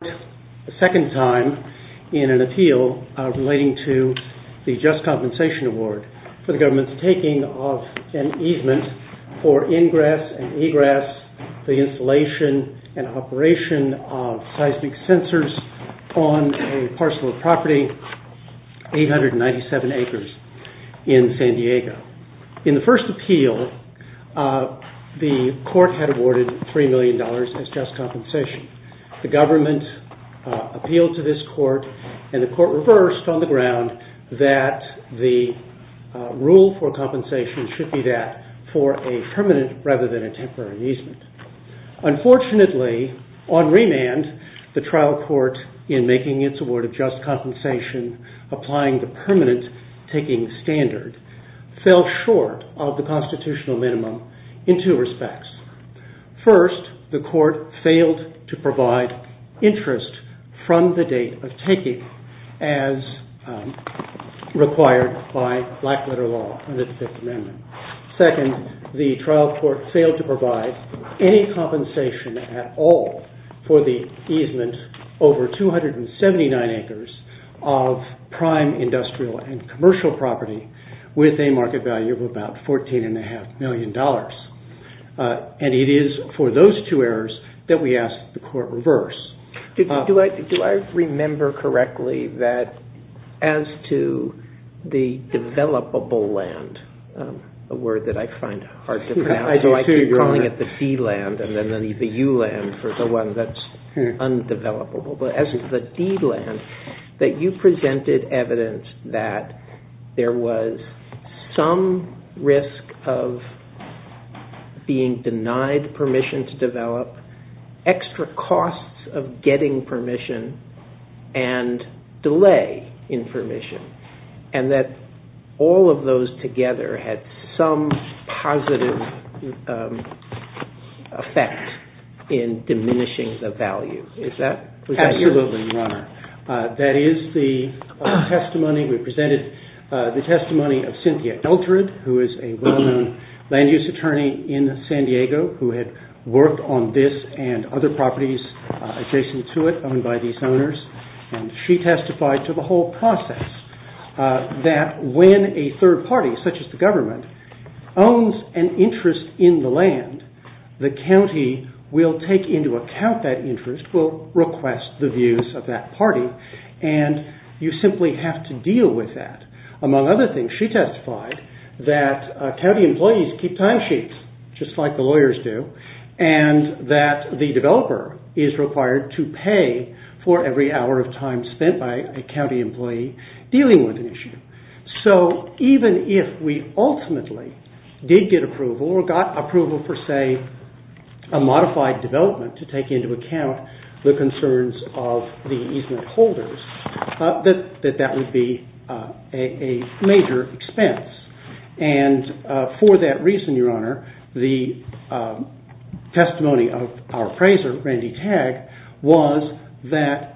Court, the second time in an appeal relating to the Just Compensation Award for the government's taking of an easement for ingress and egress, the installation and operation of seismic sensors on a parcel of property, 897 acres in San Diego. In the first appeal, the court had awarded $3 million as just compensation. The government appealed to this court, and the court reversed on the ground that the rule for compensation should be that for a permanent rather than a temporary easement. Unfortunately, on remand, the trial court, in making its award of just compensation applying the permanent taking standard, fell short of the constitutional minimum in two respects. First, the court failed to provide interest from the date of taking as required by blackletter law in the Fifth Amendment. Second, the trial court failed to provide any compensation at all for the easement over 279 acres of prime industrial and commercial property with a permanent easement. And it is for those two errors that we ask the court reverse. Do I remember correctly that as to the developable land, a word that I find hard to pronounce, so I keep calling it the D land and then the U land for the one that's undevelopable, but as the D land, that you presented evidence that there was some risk of being denied the permission to develop, extra costs of getting permission, and delay in permission, and that all of those together had some positive effect in diminishing the value. Is that correct? Absolutely, Your Honor. That is the testimony. We presented the testimony of Cynthia Eltred, who is a well-known land use attorney in San Diego, who had worked on this and other properties adjacent to it, owned by these owners, and she testified to the whole process that when a third party, such as the government, owns an interest in the land, the county will take into account that interest, will request the views of that party, and you simply have to say that county employees keep timesheets, just like the lawyers do, and that the developer is required to pay for every hour of time spent by a county employee dealing with an issue. So even if we ultimately did get approval or got approval for, say, a modified development to take into account the concerns of the easement holders, that that would be a major expense. And for that reason, Your Honor, the testimony of our appraiser, Randy Tagg, was that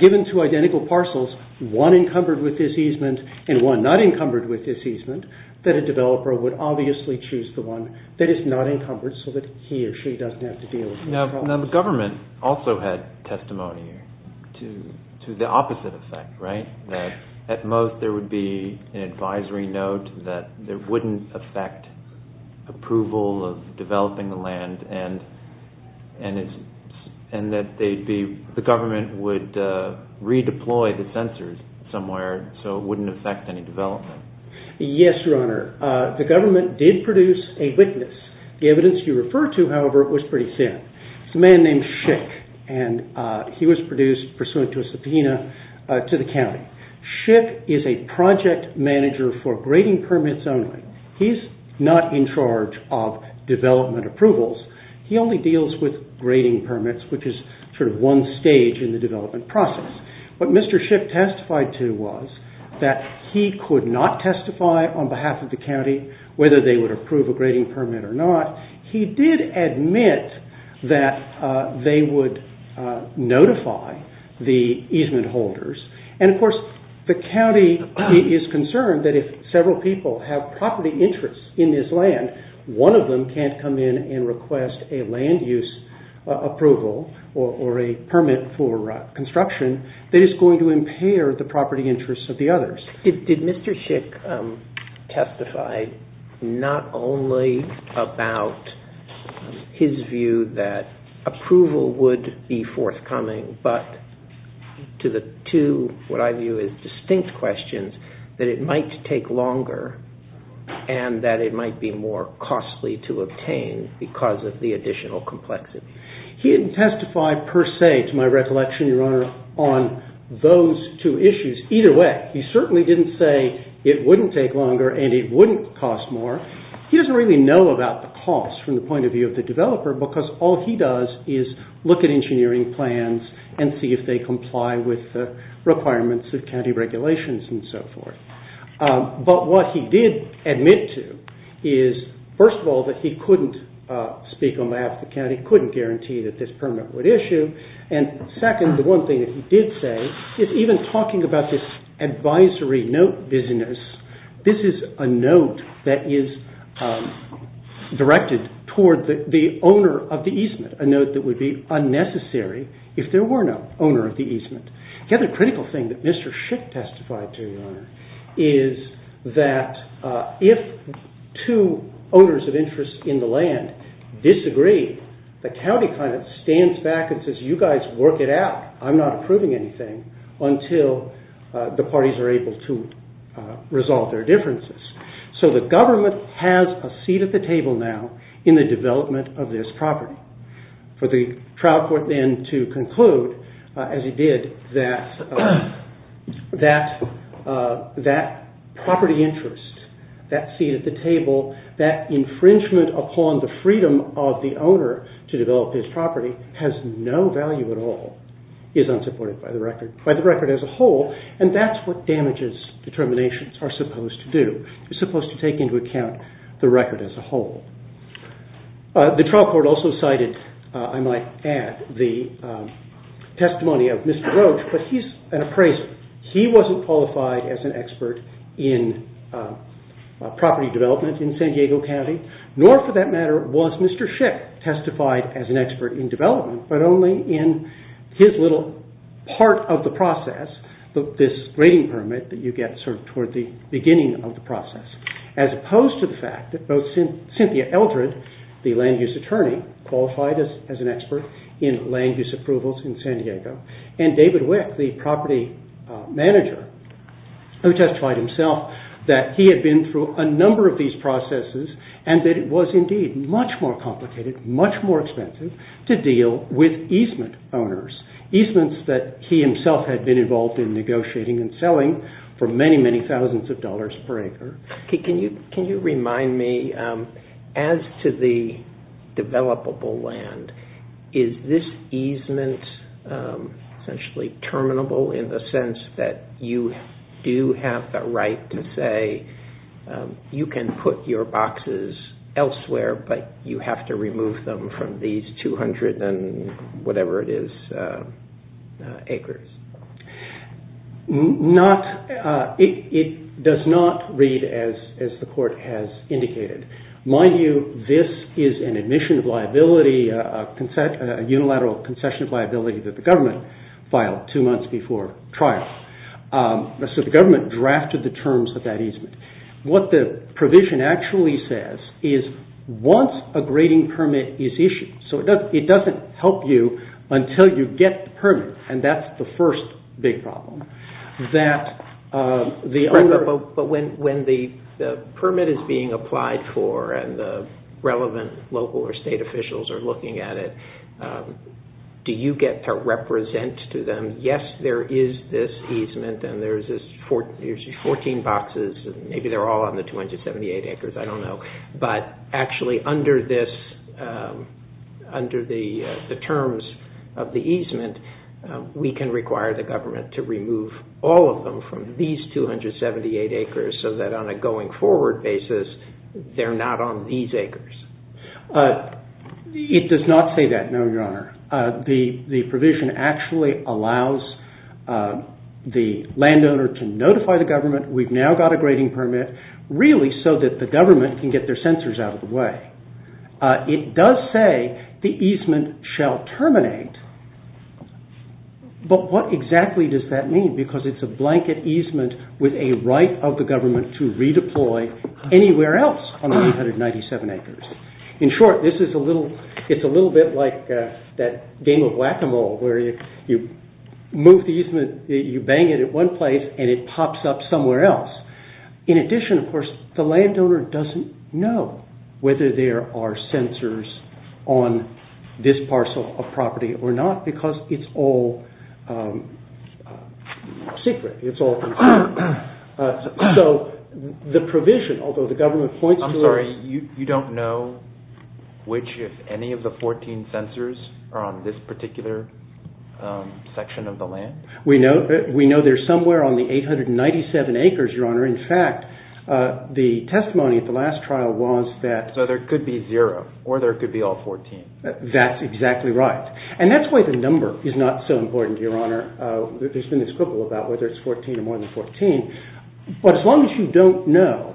given two identical parcels, one encumbered with this easement and one not encumbered with this easement, that a developer would obviously choose the one that is not encumbered so that he or she doesn't have to deal with the problem. Now the government also had testimony to the opposite effect, right? That at most there would be an advisory note that there wouldn't affect approval of developing the land, and that the government would redeploy the censors somewhere so it wouldn't affect any development. Yes, Your Honor. The government did produce a witness. The evidence you refer to, however, was pretty thin. It's a man named Schick, and he was produced pursuant to a subpoena to the county. Schick is a project manager for grading permits only. He's not in charge of development approvals. He only deals with grading permits, which is sort of one stage in the development process. What Mr. Schick testified to was that he could not testify on behalf of the county whether they would approve a grading permit or not. He did admit that they would notify the easement holders, and of course the county is concerned that if several people have property interests in this land, one of them can't come in and request a land use approval or a permit for construction that is going to impair the property interests of the others. Did Mr. Schick testify not only about his view that approval would be forthcoming, but to the two, what I view as distinct questions, that it might take longer and that it might be more costly to obtain because of the additional complexity? He didn't testify per se, to my recollection, Your Honor, on those two issues. Either way, he certainly didn't say it wouldn't take longer and it wouldn't cost more. He doesn't really know about the cost from the point of view of the developer because all he does is look at engineering plans and see if they comply with the requirements of county regulations and so forth. But what he did admit to is, first of all, that he couldn't speak on behalf of the county, couldn't guarantee that this permit would issue, and second, the one thing that he did say is even talking about this advisory note business, this is a note that is directed toward the owner of the easement, a note that would be unnecessary if there were no owner of the easement. The other critical thing that Mr. Schick testified to, Your Honor, is that if two owners of interest in the land disagree, the county kind of stands back and says, you guys work it out. I'm not proving anything until the parties are able to resolve their differences. So the government has a seat at the table now in the development of this property. For the trial court then to conclude, as he did, that that property interest, that seat at the table, that infringement upon the freedom of the owner to develop his property has no value at all, is unsupported by the record as a whole, and that's what damages determinations are supposed to do. It's supposed to take into account the record as a whole. The trial court also cited, I might add, the testimony of Mr. Roach, but he's an appraiser. He wasn't qualified as an expert in property development in San Diego County, nor for that matter was Mr. Schick testified as an expert in development, but only in his little part of the process, this rating permit that you get sort of toward the beginning of the process, as opposed to the fact that both Cynthia Eldred, the land use attorney, qualified as an expert in land use approvals in San Diego, and David Wick, the property manager, who testified himself that he had been through a number of these processes and that it was indeed much more complicated, much more expensive to deal with easement owners, easements that he himself had been involved in negotiating and selling for many, many thousands of dollars per acre. Can you remind me, as to the developable land, is this easement essentially terminable in the sense that you do have the right to say, you can put your boxes elsewhere, but you have to remove them from these 200 and whatever it is acres? It does not read as the court has indicated. Mind you, this is an admission of liability, a unilateral concession of liability that the government filed two months before trial. So the government drafted the terms of that easement. What the provision actually says is once a grading permit is issued, so it doesn't help you until you get the permit, and that's the first big problem. But when the permit is being applied for and the relevant local or state officials are looking at it, do you get to represent to them, yes, there is this easement and there is 14 boxes, maybe they're all on the 278 acres, I don't know. But actually under the terms of the easement, we can require the government to remove all of them from these 278 acres so that on a going forward basis, they're not on these acres. It does not say that, no, Your Honor. The provision actually allows the landowner to notify the government, we've now got a get their censors out of the way. It does say the easement shall terminate, but what exactly does that mean? Because it's a blanket easement with a right of the government to redeploy anywhere else on the 297 acres. In short, it's a little bit like that game of whack-a-mole where you move the easement, you bang it at one place and it pops up somewhere else. In addition, of course, the landowner doesn't know whether there are censors on this parcel of property or not because it's all secret, it's all concealed. So the provision, although the government points to it… I'm sorry, you don't know which, if any, of the 14 censors are on this particular section of the land? We know they're somewhere on the 897 acres, Your Honor. In fact, the testimony at the last trial was that… So there could be zero, or there could be all 14. That's exactly right. And that's why the number is not so important, Your Honor. There's been this quibble about whether it's 14 or more than 14. But as long as you don't know,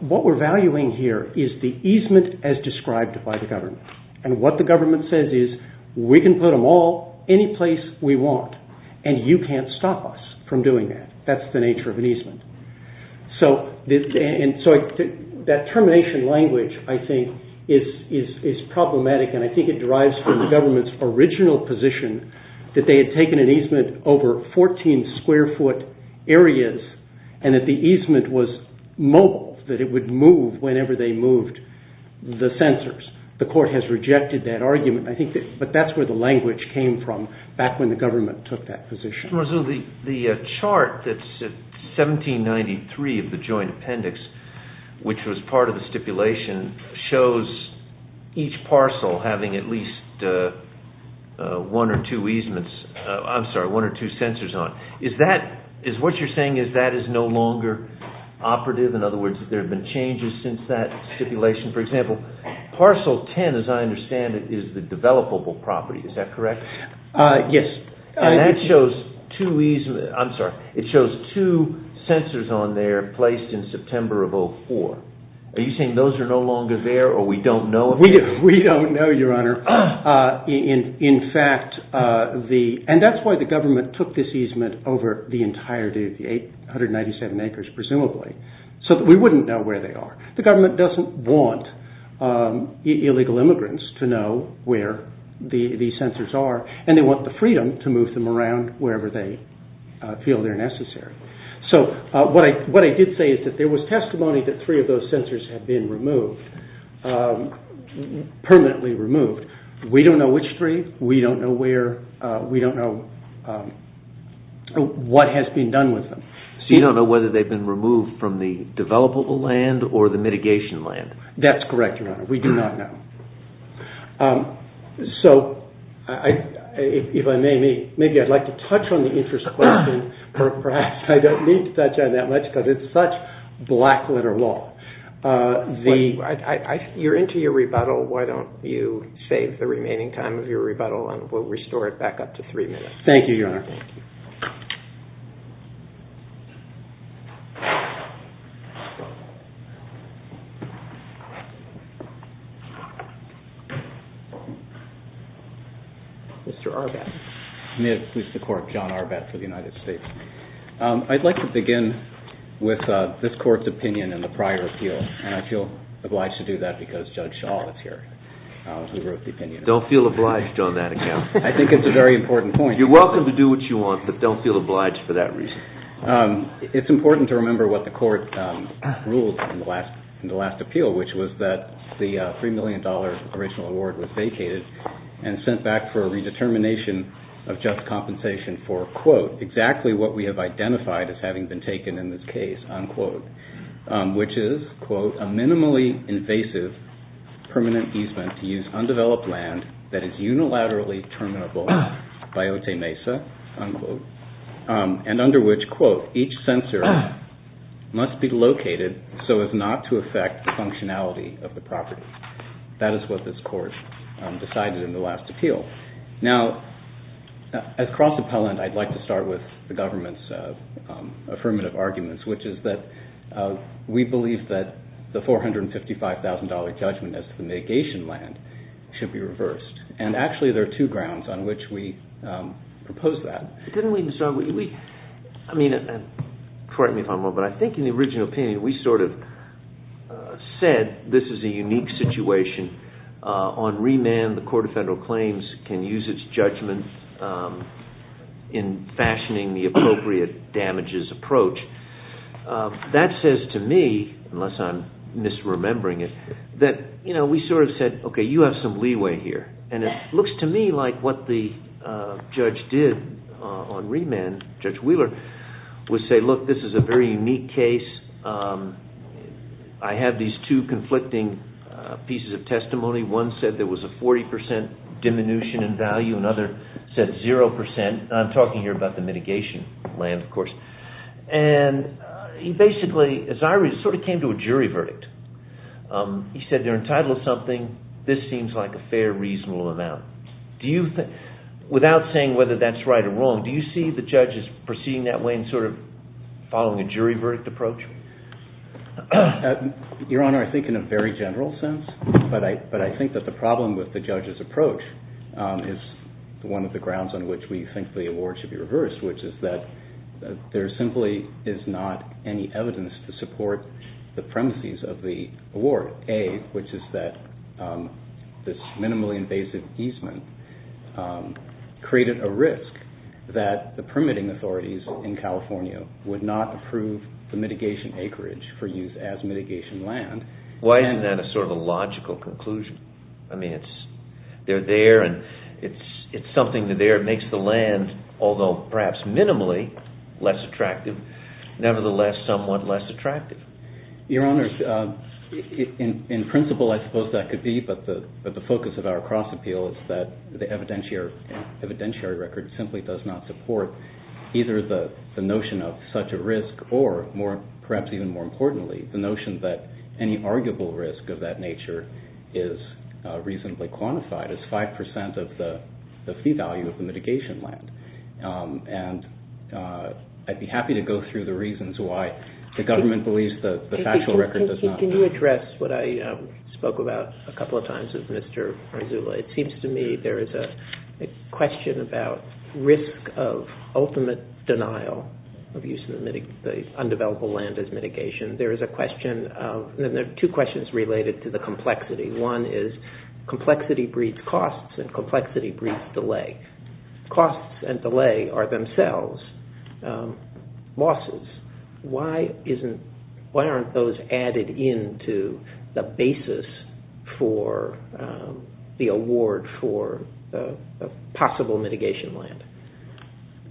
what we're valuing here is the easement as described by the government. And what the government says is, we can put them all any place we want, and you can't stop us from doing that. That's the nature of an easement. So that termination language, I think, is problematic, and I think it derives from the government's original position that they had taken an easement over 14 square foot areas and that the easement was mobile, that it would move whenever they moved the censors. The court has rejected that argument, but that's where the language came from back when the government took that position. The chart that's 1793 of the joint appendix, which was part of the stipulation, shows each parcel having at least one or two censors on. What you're saying is that is no longer operative? In other words, there have been changes since that stipulation? For example, parcel 10, as I understand it, is the developable property. Is that correct? Yes. And that shows two censors on there placed in September of 2004. Are you saying those are no longer there, or we don't know? We don't know, Your Honor. And that's why the government took this easement over the entirety of the 897 acres, presumably, so that we wouldn't know where they are. The government doesn't want illegal immigrants to know where the censors are, and they want the freedom to move them around wherever they feel they're necessary. So what I did say is that there was testimony that three of those censors had been removed, permanently removed. We don't know which three. We don't know what has been done with them. So you don't know whether they've been removed from the developable land or the mitigation land? That's correct, Your Honor. We do not know. So if I may, maybe I'd like to touch on the interest question, or perhaps I don't need to touch on it that much because it's such black-letter law. You're into your rebuttal. Why don't you save the remaining time of your rebuttal, and we'll restore it back up to three minutes. Thank you, Your Honor. Mr. Arbat. May it please the Court, John Arbat for the United States. I'd like to begin with this Court's opinion in the prior appeal, and I feel obliged to do that because Judge Shaw is here, who wrote the opinion. Don't feel obliged on that account. I think it's a very important point. You're welcome to do what you want, but don't feel obliged for that reason. It's important to remember what the Court ruled in the last appeal, which was that the $3 million original award was vacated and sent back for a redetermination of just compensation for, quote, exactly what we have identified as having been taken in this case, unquote, which is, quote, a minimally invasive permanent easement to use undeveloped land that is unilaterally terminable by Otay Mesa, unquote, and under which, quote, each censor must be located so as not to affect the functionality of the property. That is what this Court decided in the last appeal. Now, as cross-appellant, I'd like to start with the government's affirmative arguments, which is that we believe that the $455,000 judgment as to the mitigation land should be reversed, and actually there are two grounds on which we propose that. Couldn't we start with, I mean, correct me if I'm wrong, but I think in the original opinion we sort of said this is a unique situation. On remand, the Court of Federal Claims can use its judgment in fashioning the appropriate damages approach. That says to me, unless I'm misremembering it, that, you know, we sort of said, okay, you have some leeway here. And it looks to me like what the judge did on remand, Judge Wheeler, would say, look, this is a very unique case. I have these two conflicting pieces of testimony. One said there was a 40% diminution in value. Another said 0%. And I'm talking here about the mitigation land, of course. And he basically, as I read it, sort of came to a jury verdict. He said they're entitled to something. This seems like a fair, reasonable amount. Without saying whether that's right or wrong, do you see the judges proceeding that way and sort of following a jury verdict approach? Your Honor, I think in a very general sense. But I think that the problem with the judge's approach is one of the grounds on which we think the award should be reversed, which is that there simply is not any evidence to support the premises of the award. A, which is that this minimally invasive easement created a risk that the permitting authorities in California would not approve the mitigation acreage for use as mitigation land. Why isn't that sort of a logical conclusion? I mean, they're there and it's something that makes the land, although perhaps minimally less attractive, nevertheless somewhat less attractive. Your Honor, in principle I suppose that could be, but the focus of our cross-appeal is that the evidentiary record simply does not support either the notion of such a risk or, perhaps even more importantly, the notion that any arguable risk of that nature is reasonably quantified as 5% of the fee value of the mitigation land. And I'd be happy to go through the reasons why the government believes the factual record does not. Can you address what I spoke about a couple of times with Mr. Arzula? It seems to me there is a question about risk of ultimate denial of use of the undeveloped land as mitigation. There is a question of, there are two questions related to the complexity. One is complexity breeds costs and complexity breeds delay. Costs and delay are themselves losses. Why aren't those added into the basis for the award for possible mitigation land?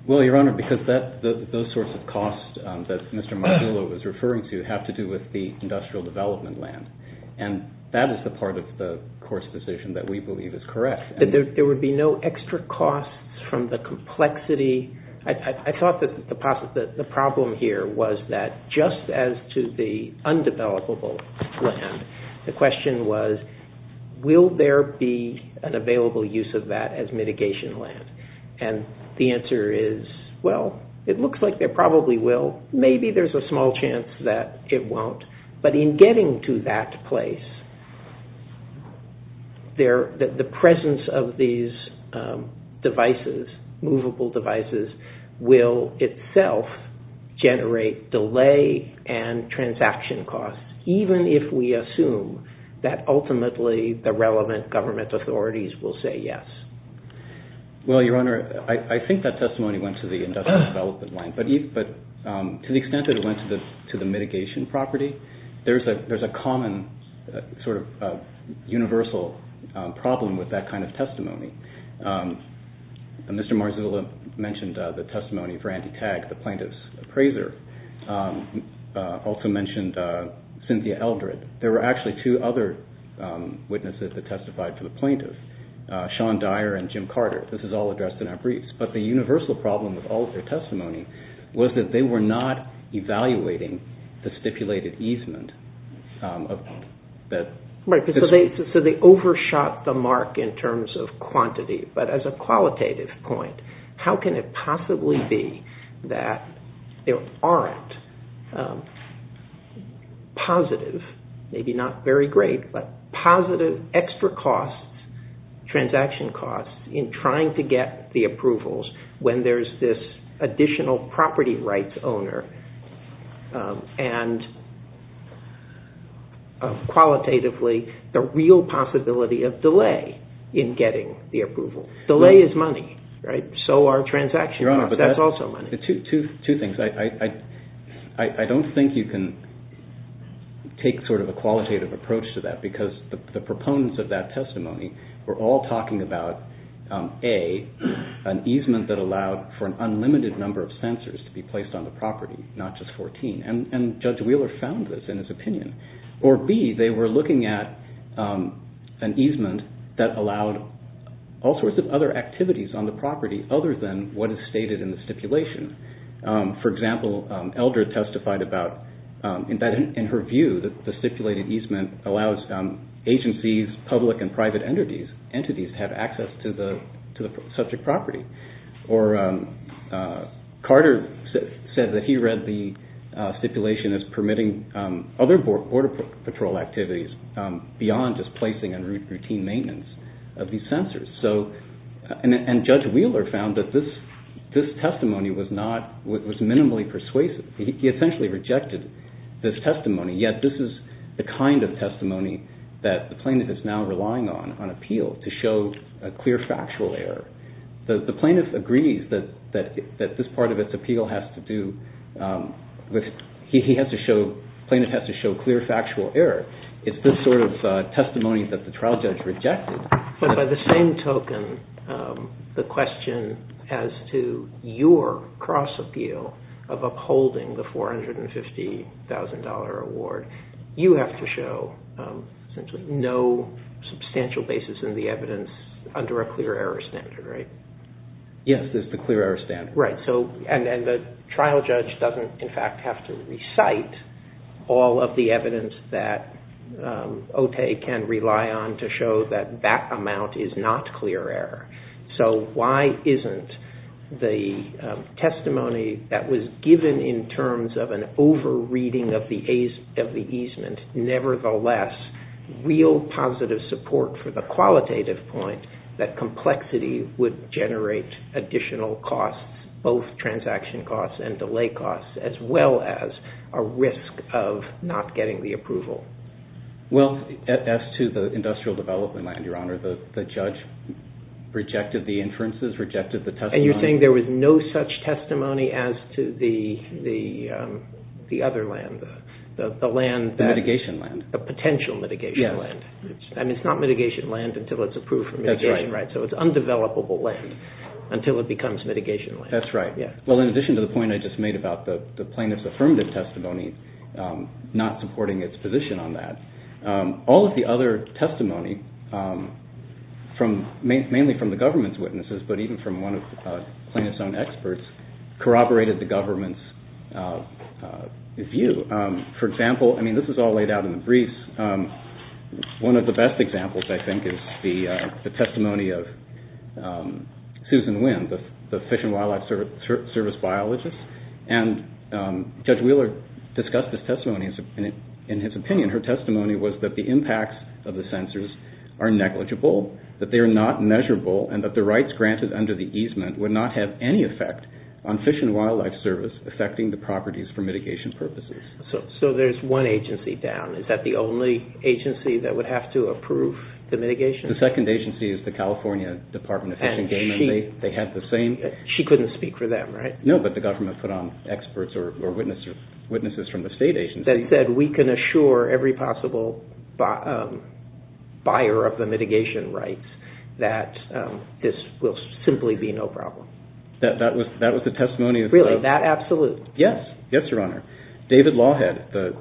Well, Your Honor, because those sorts of costs that Mr. Marzullo was referring to have to do with the industrial development land. And that is the part of the Court's decision that we believe is correct. There would be no extra costs from the complexity? I thought that the problem here was that just as to the undevelopable land, the question was, will there be an available use of that as mitigation land? And the answer is, well, it looks like there probably will. Maybe there is a small chance that it won't. But in getting to that place, the presence of these devices, movable devices, will itself generate delay and transaction costs, even if we assume that ultimately the relevant government authorities will say yes. Well, Your Honor, I think that testimony went to the industrial development land. But to the extent that it went to the mitigation property, there is a common sort of universal problem with that kind of testimony. Mr. Marzullo mentioned the testimony for Andy Tagg, the plaintiff's appraiser. He also mentioned Cynthia Eldred. There were actually two other witnesses that testified for the plaintiff. Sean Dyer and Jim Carter. This is all addressed in our briefs. But the universal problem with all of their testimony was that they were not evaluating the stipulated easement. So they overshot the mark in terms of quantity. But as a qualitative point, how can it possibly be that there aren't positive, maybe not very great, but positive extra costs, transaction costs, in trying to get the approvals when there's this additional property rights owner and qualitatively the real possibility of delay in getting the approval. Delay is money, right? So are transaction costs. That's also money. Two things. I don't think you can take sort of a qualitative approach to that because the proponents of that testimony were all talking about, A, an easement that allowed for an unlimited number of censors to be placed on the property, not just 14. And Judge Wheeler found this in his opinion. Or, B, they were looking at an easement that allowed all sorts of other activities on the property other than what is stated in the stipulation. For example, Elder testified about, in her view, that the stipulated easement allows agencies, public and private entities, to have access to the subject property. Or Carter said that he read the stipulation as permitting other Border Patrol activities beyond just placing and routine maintenance of these censors. And Judge Wheeler found that this testimony was minimally persuasive. He essentially rejected this testimony, yet this is the kind of testimony that the plaintiff is now relying on, on appeal, to show a clear factual error. The plaintiff agrees that this part of its appeal has to do with, the plaintiff has to show clear factual error. It's this sort of testimony that the trial judge rejected. But by the same token, the question as to your cross-appeal of upholding the $450,000 award, you have to show no substantial basis in the evidence under a clear error standard, right? Yes, there's the clear error standard. Right, and the trial judge doesn't in fact have to recite all of the evidence that Otay can rely on to show that that amount is not clear error. So why isn't the testimony that was given in terms of an over-reading of the easement, nevertheless real positive support for the qualitative point, that complexity would generate additional costs, both transaction costs and delay costs, as well as a risk of not getting the approval? Well, as to the industrial development land, Your Honor, the judge rejected the inferences, rejected the testimony. And you're saying there was no such testimony as to the other land, the land that… Mitigation land. The potential mitigation land. Yes. And it's not mitigation land until it's approved for mitigation, right? That's right. So it's undevelopable land until it becomes mitigation land. That's right. Well, in addition to the point I just made about the plaintiff's affirmative testimony not supporting its position on that, all of the other testimony, mainly from the government's witnesses, but even from one of the plaintiff's own experts, corroborated the government's view. For example, I mean, this is all laid out in the briefs. One of the best examples, I think, is the testimony of Susan Wynn, the Fish and Wildlife Service biologist. And Judge Wheeler discussed this testimony in his opinion. Her testimony was that the impacts of the censors are negligible, that they are not measurable, and that the rights granted under the easement would not have any effect on Fish and Wildlife Service affecting the properties for mitigation purposes. So there's one agency down. Is that the only agency that would have to approve the mitigation? The second agency is the California Department of Fish and Game. She couldn't speak for them, right? No, but the government put on experts or witnesses from the state agency. That said, we can assure every possible buyer of the mitigation rights that this will simply be no problem. That was the testimony of the- Really? That absolute? Yes. Yes, Your Honor. David Lawhead, the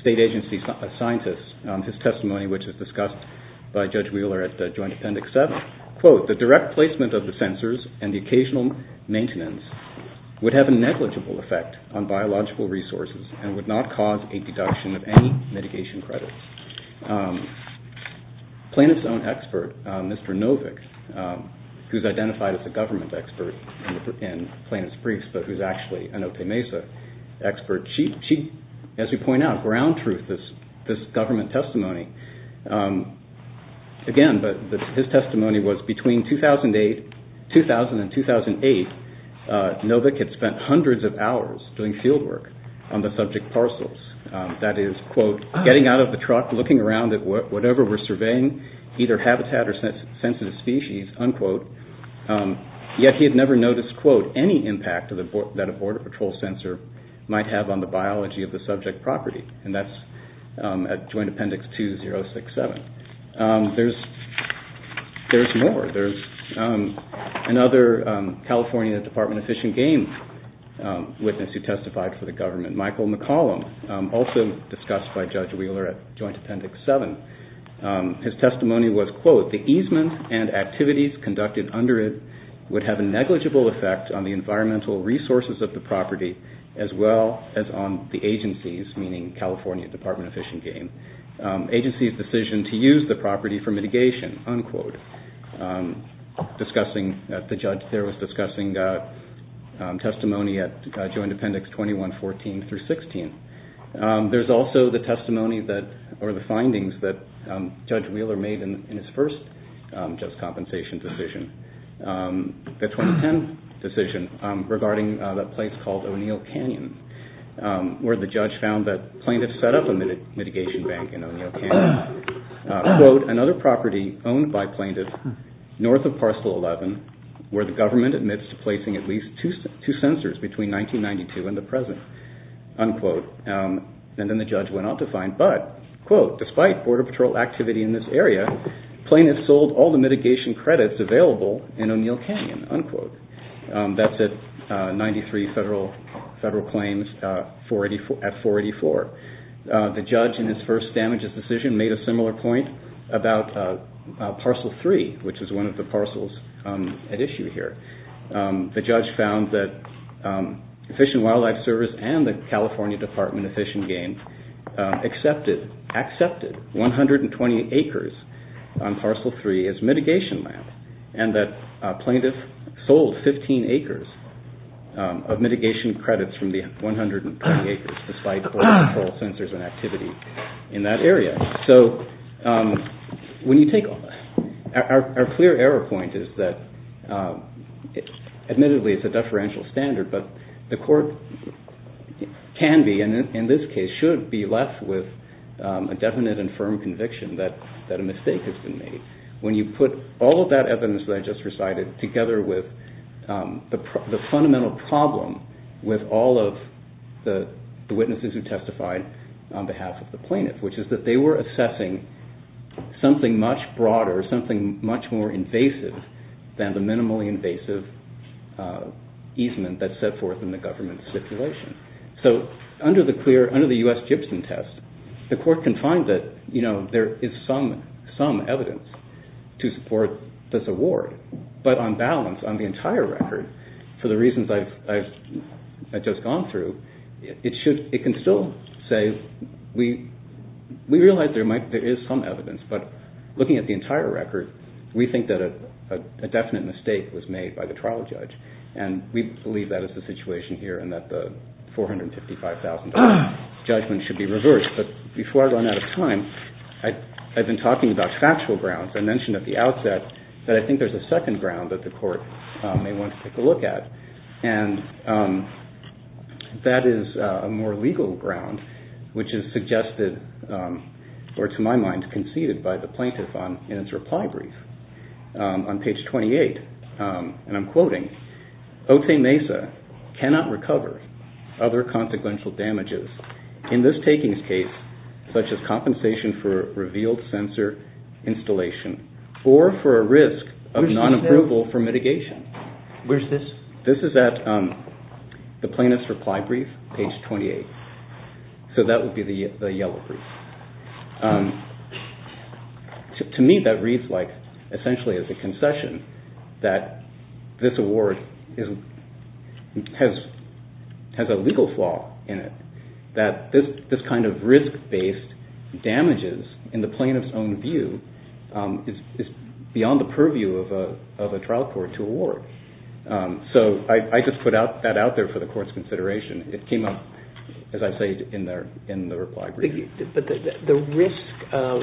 state agency scientist, his testimony, which was discussed by Judge Wheeler at Joint Appendix 7, quote, the direct placement of the censors and the occasional maintenance would have a negligible effect on biological resources and would not cause a deduction of any mitigation credits. Planet's own expert, Mr. Novick, who's identified as a government expert in Planet's Briefs, but who's actually an Otay Mesa expert, she, as we point out, ground truth this government testimony. Again, his testimony was between 2000 and 2008, Novick had spent hundreds of hours doing field work on the subject parcels. That is, quote, getting out of the truck, looking around at whatever we're surveying, either habitat or sensitive species, unquote, yet he had never noticed, quote, any impact that a border patrol censor might have on the biology of the subject property. And that's at Joint Appendix 2067. There's more. There's another California Department of Fish and Game witness who testified for the government, Michael McCollum, also discussed by Judge Wheeler at Joint Appendix 7. His testimony was, quote, the easement and activities conducted under it would have a negligible effect on the environmental resources of the property as well as on the agency's, meaning California Department of Fish and Game, agency's decision to use the property for mitigation, unquote. Discussing, the judge there was discussing testimony at Joint Appendix 2114 through 16. There's also the testimony that, or the findings that Judge Wheeler made in his first just compensation decision, the 2010 decision regarding a place called O'Neill Canyon where the judge found that plaintiffs set up a mitigation bank in O'Neill Canyon, quote, another property owned by plaintiffs north of Parcel 11 where the government admits to placing at least two censors between 1992 and the present, unquote. And then the judge went on to find, but, quote, despite border patrol activity in this area, plaintiffs sold all the mitigation credits available in O'Neill Canyon, unquote. That's at 93 federal claims at 484. The judge in his first damages decision made a similar point about Parcel 3, which is one of the parcels at issue here. The judge found that Fish and Wildlife Service and the California Department of Fish and Game accepted 120 acres on Parcel 3 as mitigation land and that plaintiffs sold 15 acres of mitigation credits from the 120 acres, despite border patrol censors and activity in that area. So when you take... Our clear error point is that, admittedly, it's a deferential standard, but the court can be, and in this case should be, left with a definite and firm conviction that a mistake has been made. When you put all of that evidence that I just recited together with the fundamental problem with all of the witnesses who testified on behalf of the plaintiff, which is that they were assessing something much broader, something much more invasive than the minimally invasive easement that's set forth in the government stipulation. So under the U.S. Gibson test, the court can find that there is some evidence to support this award, but on balance, on the entire record, for the reasons I've just gone through, it can still say, we realize there is some evidence, but looking at the entire record, we think that a definite mistake was made by the trial judge and we believe that is the situation here and that the $455,000 judgment should be reversed. But before I run out of time, I've been talking about factual grounds. I mentioned at the outset that I think there's a second ground that the court may want to take a look at, and that is a more legal ground, which is suggested, or to my mind, conceded by the plaintiff in its reply brief on page 28. And I'm quoting, Otay Mesa cannot recover other consequential damages in this takings case, such as compensation for revealed sensor installation or for a risk of non-approval for mitigation. Where's this? This is at the plaintiff's reply brief, page 28. So that would be the yellow brief. To me, that reads like, essentially as a concession, that this award has a legal flaw in it, that this kind of risk-based damages, in the plaintiff's own view, is beyond the purview of a trial court to award. So I just put that out there for the court's consideration. It came up, as I say, in the reply brief. The risk of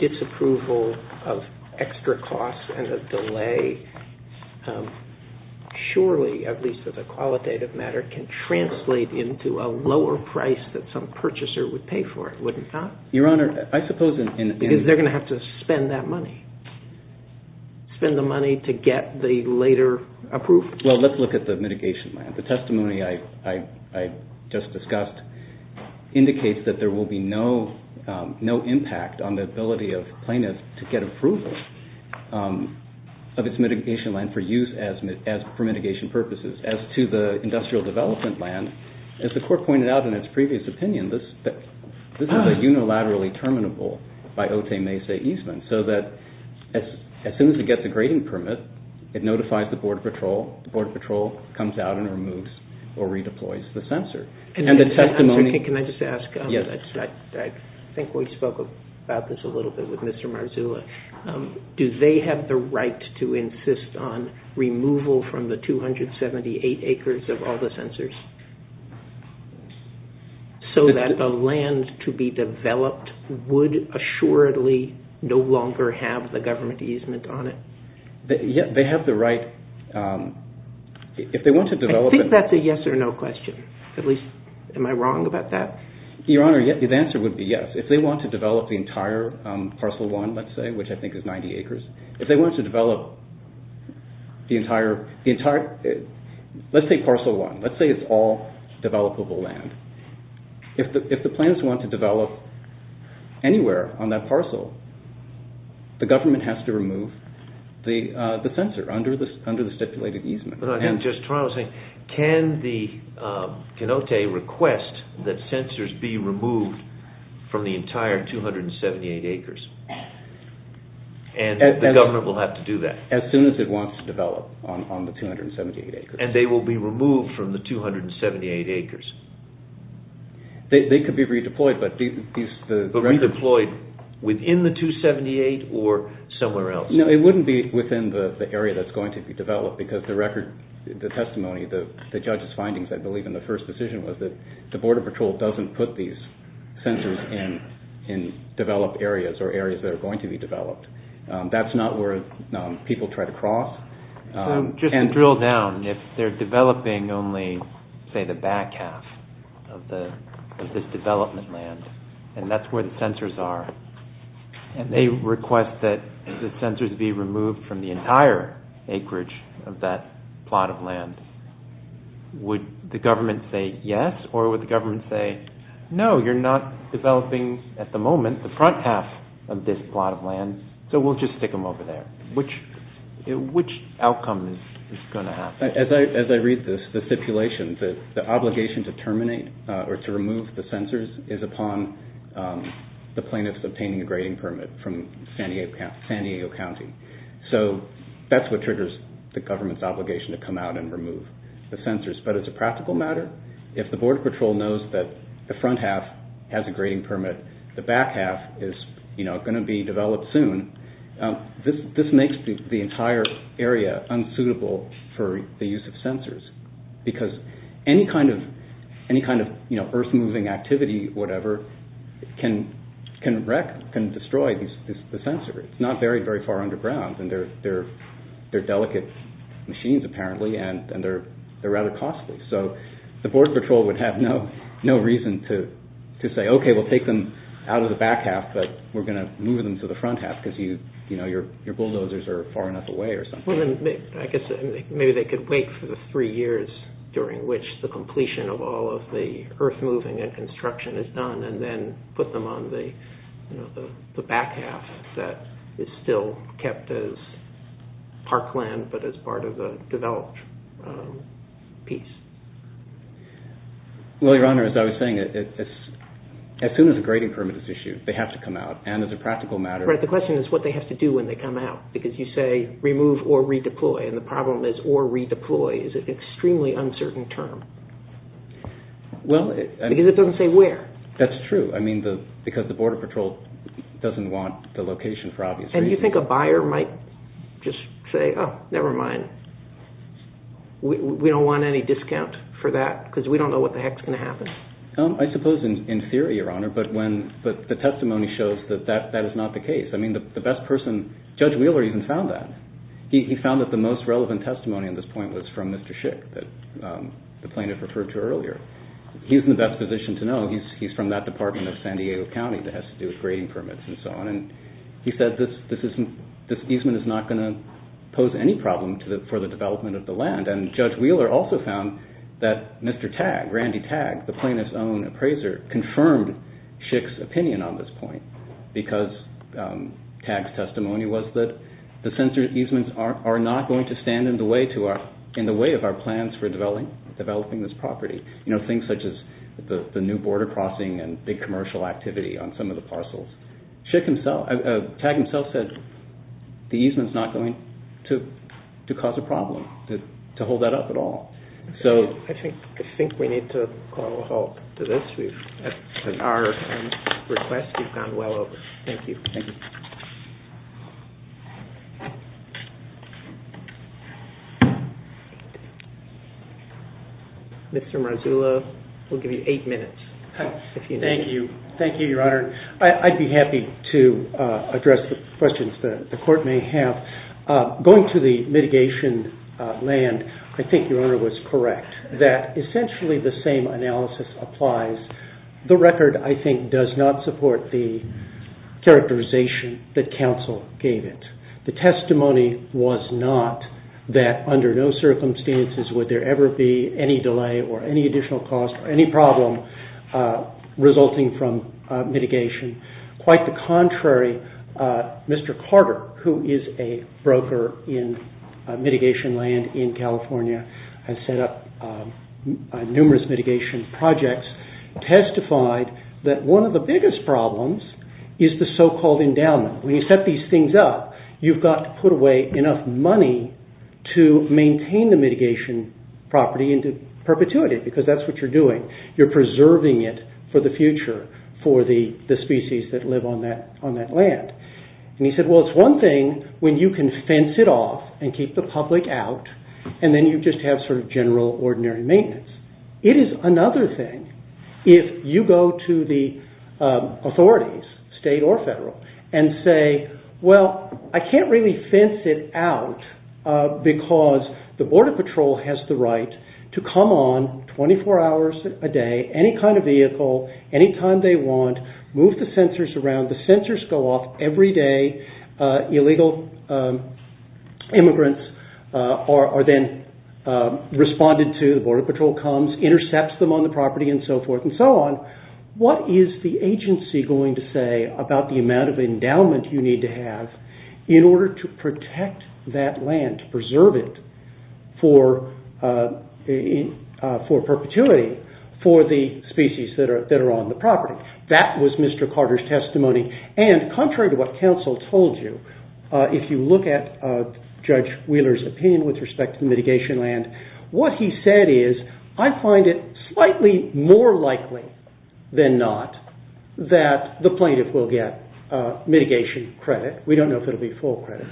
disapproval of extra costs and the delay, surely, at least as a qualitative matter, can translate into a lower price that some purchaser would pay for it, wouldn't it not? Your Honor, I suppose in... Because they're going to have to spend that money. Spend the money to get the later approval. Well, let's look at the mitigation plan. The testimony I just discussed indicates that there will be no impact on the ability of plaintiffs to get approval of its mitigation plan for use for mitigation purposes. As to the industrial development plan, as the Court pointed out in its previous opinion, this is a unilaterally terminable by Otay Maysay easement, so that as soon as it gets a grading permit, it notifies the Border Patrol. The Border Patrol comes out and removes or redeploys the censor. And the testimony... I've talked about this a little bit with Mr. Marzulla. Do they have the right to insist on removal from the 278 acres of all the censors so that the land to be developed would assuredly no longer have the government easement on it? Yeah, they have the right. If they want to develop... I think that's a yes or no question. At least, am I wrong about that? Your Honor, the answer would be yes. If they want to develop the entire Parcel 1, let's say, which I think is 90 acres, if they want to develop the entire... Let's take Parcel 1. Let's say it's all developable land. If the plaintiffs want to develop anywhere on that parcel, the government has to remove the censor under the stipulated easement. I'm just trying to say, can the Kenote request that censors be removed from the entire 278 acres? And the government will have to do that? As soon as it wants to develop on the 278 acres. And they will be removed from the 278 acres? They could be redeployed, but these... But redeployed within the 278 or somewhere else? The testimony, the judge's findings, I believe, in the first decision was that the Border Patrol doesn't put these censors in developed areas or areas that are going to be developed. That's not where people try to cross. Just to drill down, if they're developing only, say, the back half of this development land, and that's where the censors are, and they request that the censors be removed from the entire acreage of that plot of land, would the government say yes, or would the government say, no, you're not developing, at the moment, the front half of this plot of land, so we'll just stick them over there? Which outcome is going to happen? As I read this, the stipulation, the obligation to terminate or to remove the censors is upon the plaintiffs obtaining a grading permit from San Diego County. So that's what triggers the government's obligation to come out and remove the censors. But as a practical matter, if the Border Patrol knows that the front half has a grading permit, the back half is going to be developed soon, this makes the entire area unsuitable for the use of censors, because any kind of earth-moving activity, whatever, can wreck, can destroy the censor. It's not very, very far underground, and they're delicate machines, apparently, and they're rather costly. So the Border Patrol would have no reason to say, okay, we'll take them out of the back half, but we're going to move them to the front half because your bulldozers are far enough away or something. I guess maybe they could wait for the three years during which the completion of all of the earth-moving and construction is done, and then put them on the back half that is still kept as parkland, but as part of the developed piece. Well, Your Honor, as I was saying, as soon as a grading permit is issued, they have to come out. And as a practical matter... Right, the question is what they have to do when they come out, because you say remove or redeploy, and the problem is or redeploy is an extremely uncertain term. Well... Because it doesn't say where. That's true. I mean, because the Border Patrol doesn't want the location for obvious reasons. And you think a buyer might just say, oh, never mind. We don't want any discount for that because we don't know what the heck is going to happen. I suppose in theory, Your Honor, but the testimony shows that that is not the case. I mean, the best person... Judge Wheeler even found that. He found that the most relevant testimony at this point was from Mr. Schick, the plaintiff referred to earlier. He's in the best position to know. He's from that department of San Diego County that has to do with grading permits and so on. And he said this easement is not going to pose any problem for the development of the land. And Judge Wheeler also found that Mr. Tagg, Randy Tagg, the plaintiff's own appraiser, confirmed Schick's opinion on this point because Tagg's testimony was that the censored easements are not going to stand in the way of our plans for developing this property. Things such as the new border crossing and big commercial activity on some of the parcels. Tagg himself said the easement is not going to cause a problem to hold that up at all. I think we need to call a halt to this. Our request has gone well over. Thank you. Thank you. Thank you. Mr. Marzullo, we'll give you eight minutes. Thank you. Thank you, Your Honor. I'd be happy to address the questions the court may have. Going to the mitigation land, I think Your Honor was correct that essentially the same analysis applies. The record I think does not support the characterization that counsel gave it. The testimony was not that under no circumstances would there ever be any delay or any additional cost or any problem resulting from mitigation. Quite the contrary, Mr. Carter, who is a broker in mitigation land in California, has set up numerous mitigation projects and testified that one of the biggest problems is the so-called endowment. When you set these things up, you've got to put away enough money to maintain the mitigation property into perpetuity because that's what you're doing. You're preserving it for the future for the species that live on that land. And he said, well, it's one thing when you can fence it off and keep the public out and then you just have sort of general ordinary maintenance. It is another thing if you go to the authorities, state or federal, and say, well, I can't really fence it out because the Border Patrol has the right to come on 24 hours a day, any kind of vehicle, any time they want, move the sensors around. The sensors go off every day. Illegal immigrants are then responded to. The Border Patrol comes, intercepts them on the property and so forth and so on. What is the agency going to say about the amount of endowment you need to have in order to protect that land, to preserve it for perpetuity for the species that are on the property? That was Mr. Carter's testimony. And contrary to what counsel told you, if you look at Judge Wheeler's opinion with respect to mitigation land, what he said is, I find it slightly more likely than not that the plaintiff will get mitigation credit. We don't know if it will be full credit.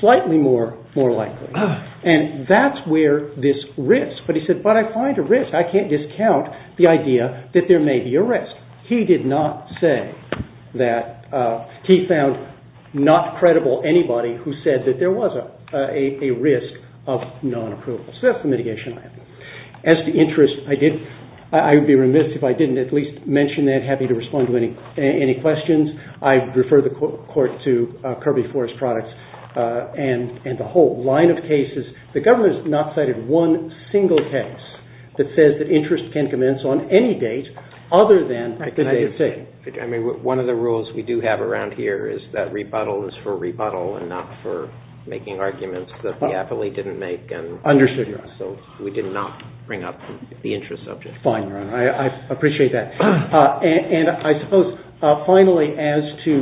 Slightly more likely. And that's where this risk, but he said, but I find a risk. I can't discount the idea that there may be a risk. He did not say that, he found not credible anybody who said that there was a risk of non-approval. So that's the mitigation land. As to interest, I would be remiss if I didn't at least mention that, happy to respond to any questions. I refer the court to Kirby Forest Products and the whole line of cases. The government has not cited one single case that says that interest can commence on any date other than the date. One of the rules we do have around here is that rebuttal is for rebuttal and not for making arguments that the affilee didn't make. Understood. So we did not bring up the interest subject. Fine, Your Honor. I appreciate that. And I suppose, finally, as to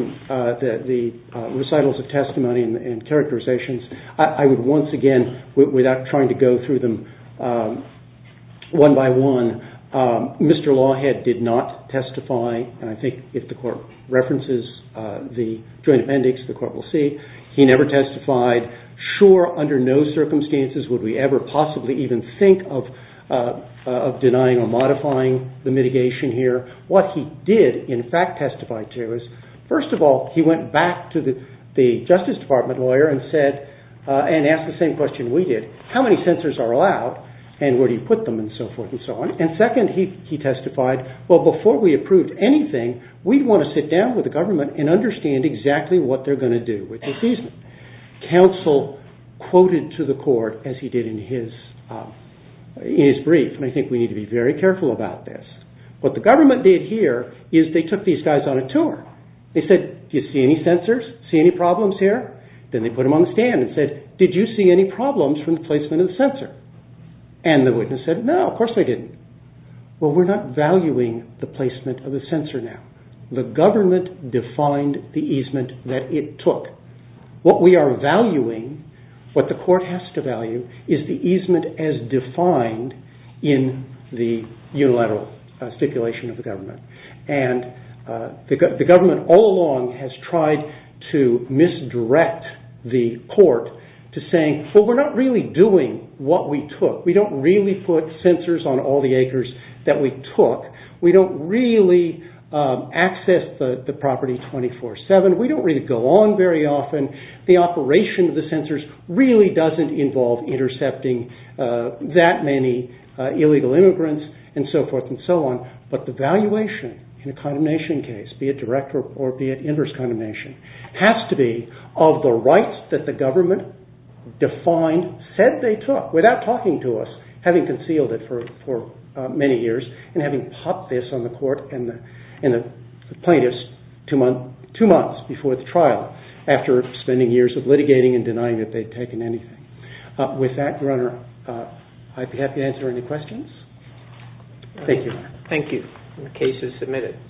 the recitals of testimony and characterizations, I would once again, without trying to go through them one by one, Mr. Lawhead did not testify. And I think if the court references the joint appendix, the court will see. He never testified. Sure, under no circumstances would we ever possibly even think of denying or modifying the mitigation here. What he did, in fact, testify to is, first of all, he went back to the Justice Department lawyer and asked the same question we did. How many censors are allowed and where do you put them and so forth and so on? And second, he testified, well, before we proved anything, we'd want to sit down with the government and understand exactly what they're going to do with the season. Counsel quoted to the court, as he did in his brief, and I think we need to be very careful about this, what the government did here is they took these guys on a tour. They said, do you see any censors? See any problems here? Then they put them on the stand and said, did you see any problems from the placement of the censor? And the witness said, no, of course they didn't. Well, we're not valuing the placement of the censor now. The government defined the easement that it took. What we are valuing, what the court has to value, is the easement as defined in the unilateral stipulation of the government. And the government all along has tried to misdirect the court to saying, well, we're not really doing what we took. We don't really put censors on all the acres that we took. We don't really access the property 24-7. We don't really go on very often. The operation of the censors really doesn't involve intercepting that many illegal immigrants and so forth and so on. But the valuation in a condemnation case, be it direct or be it inverse condemnation, has to be of the rights that the government defined, said they took without talking to us, having concealed it for many years, and having popped this on the court and the plaintiffs two months before the trial after spending years of litigating and denying that they'd taken anything. With that, Your Honor, I'd be happy to answer any questions. Thank you. Thank you. The case is submitted.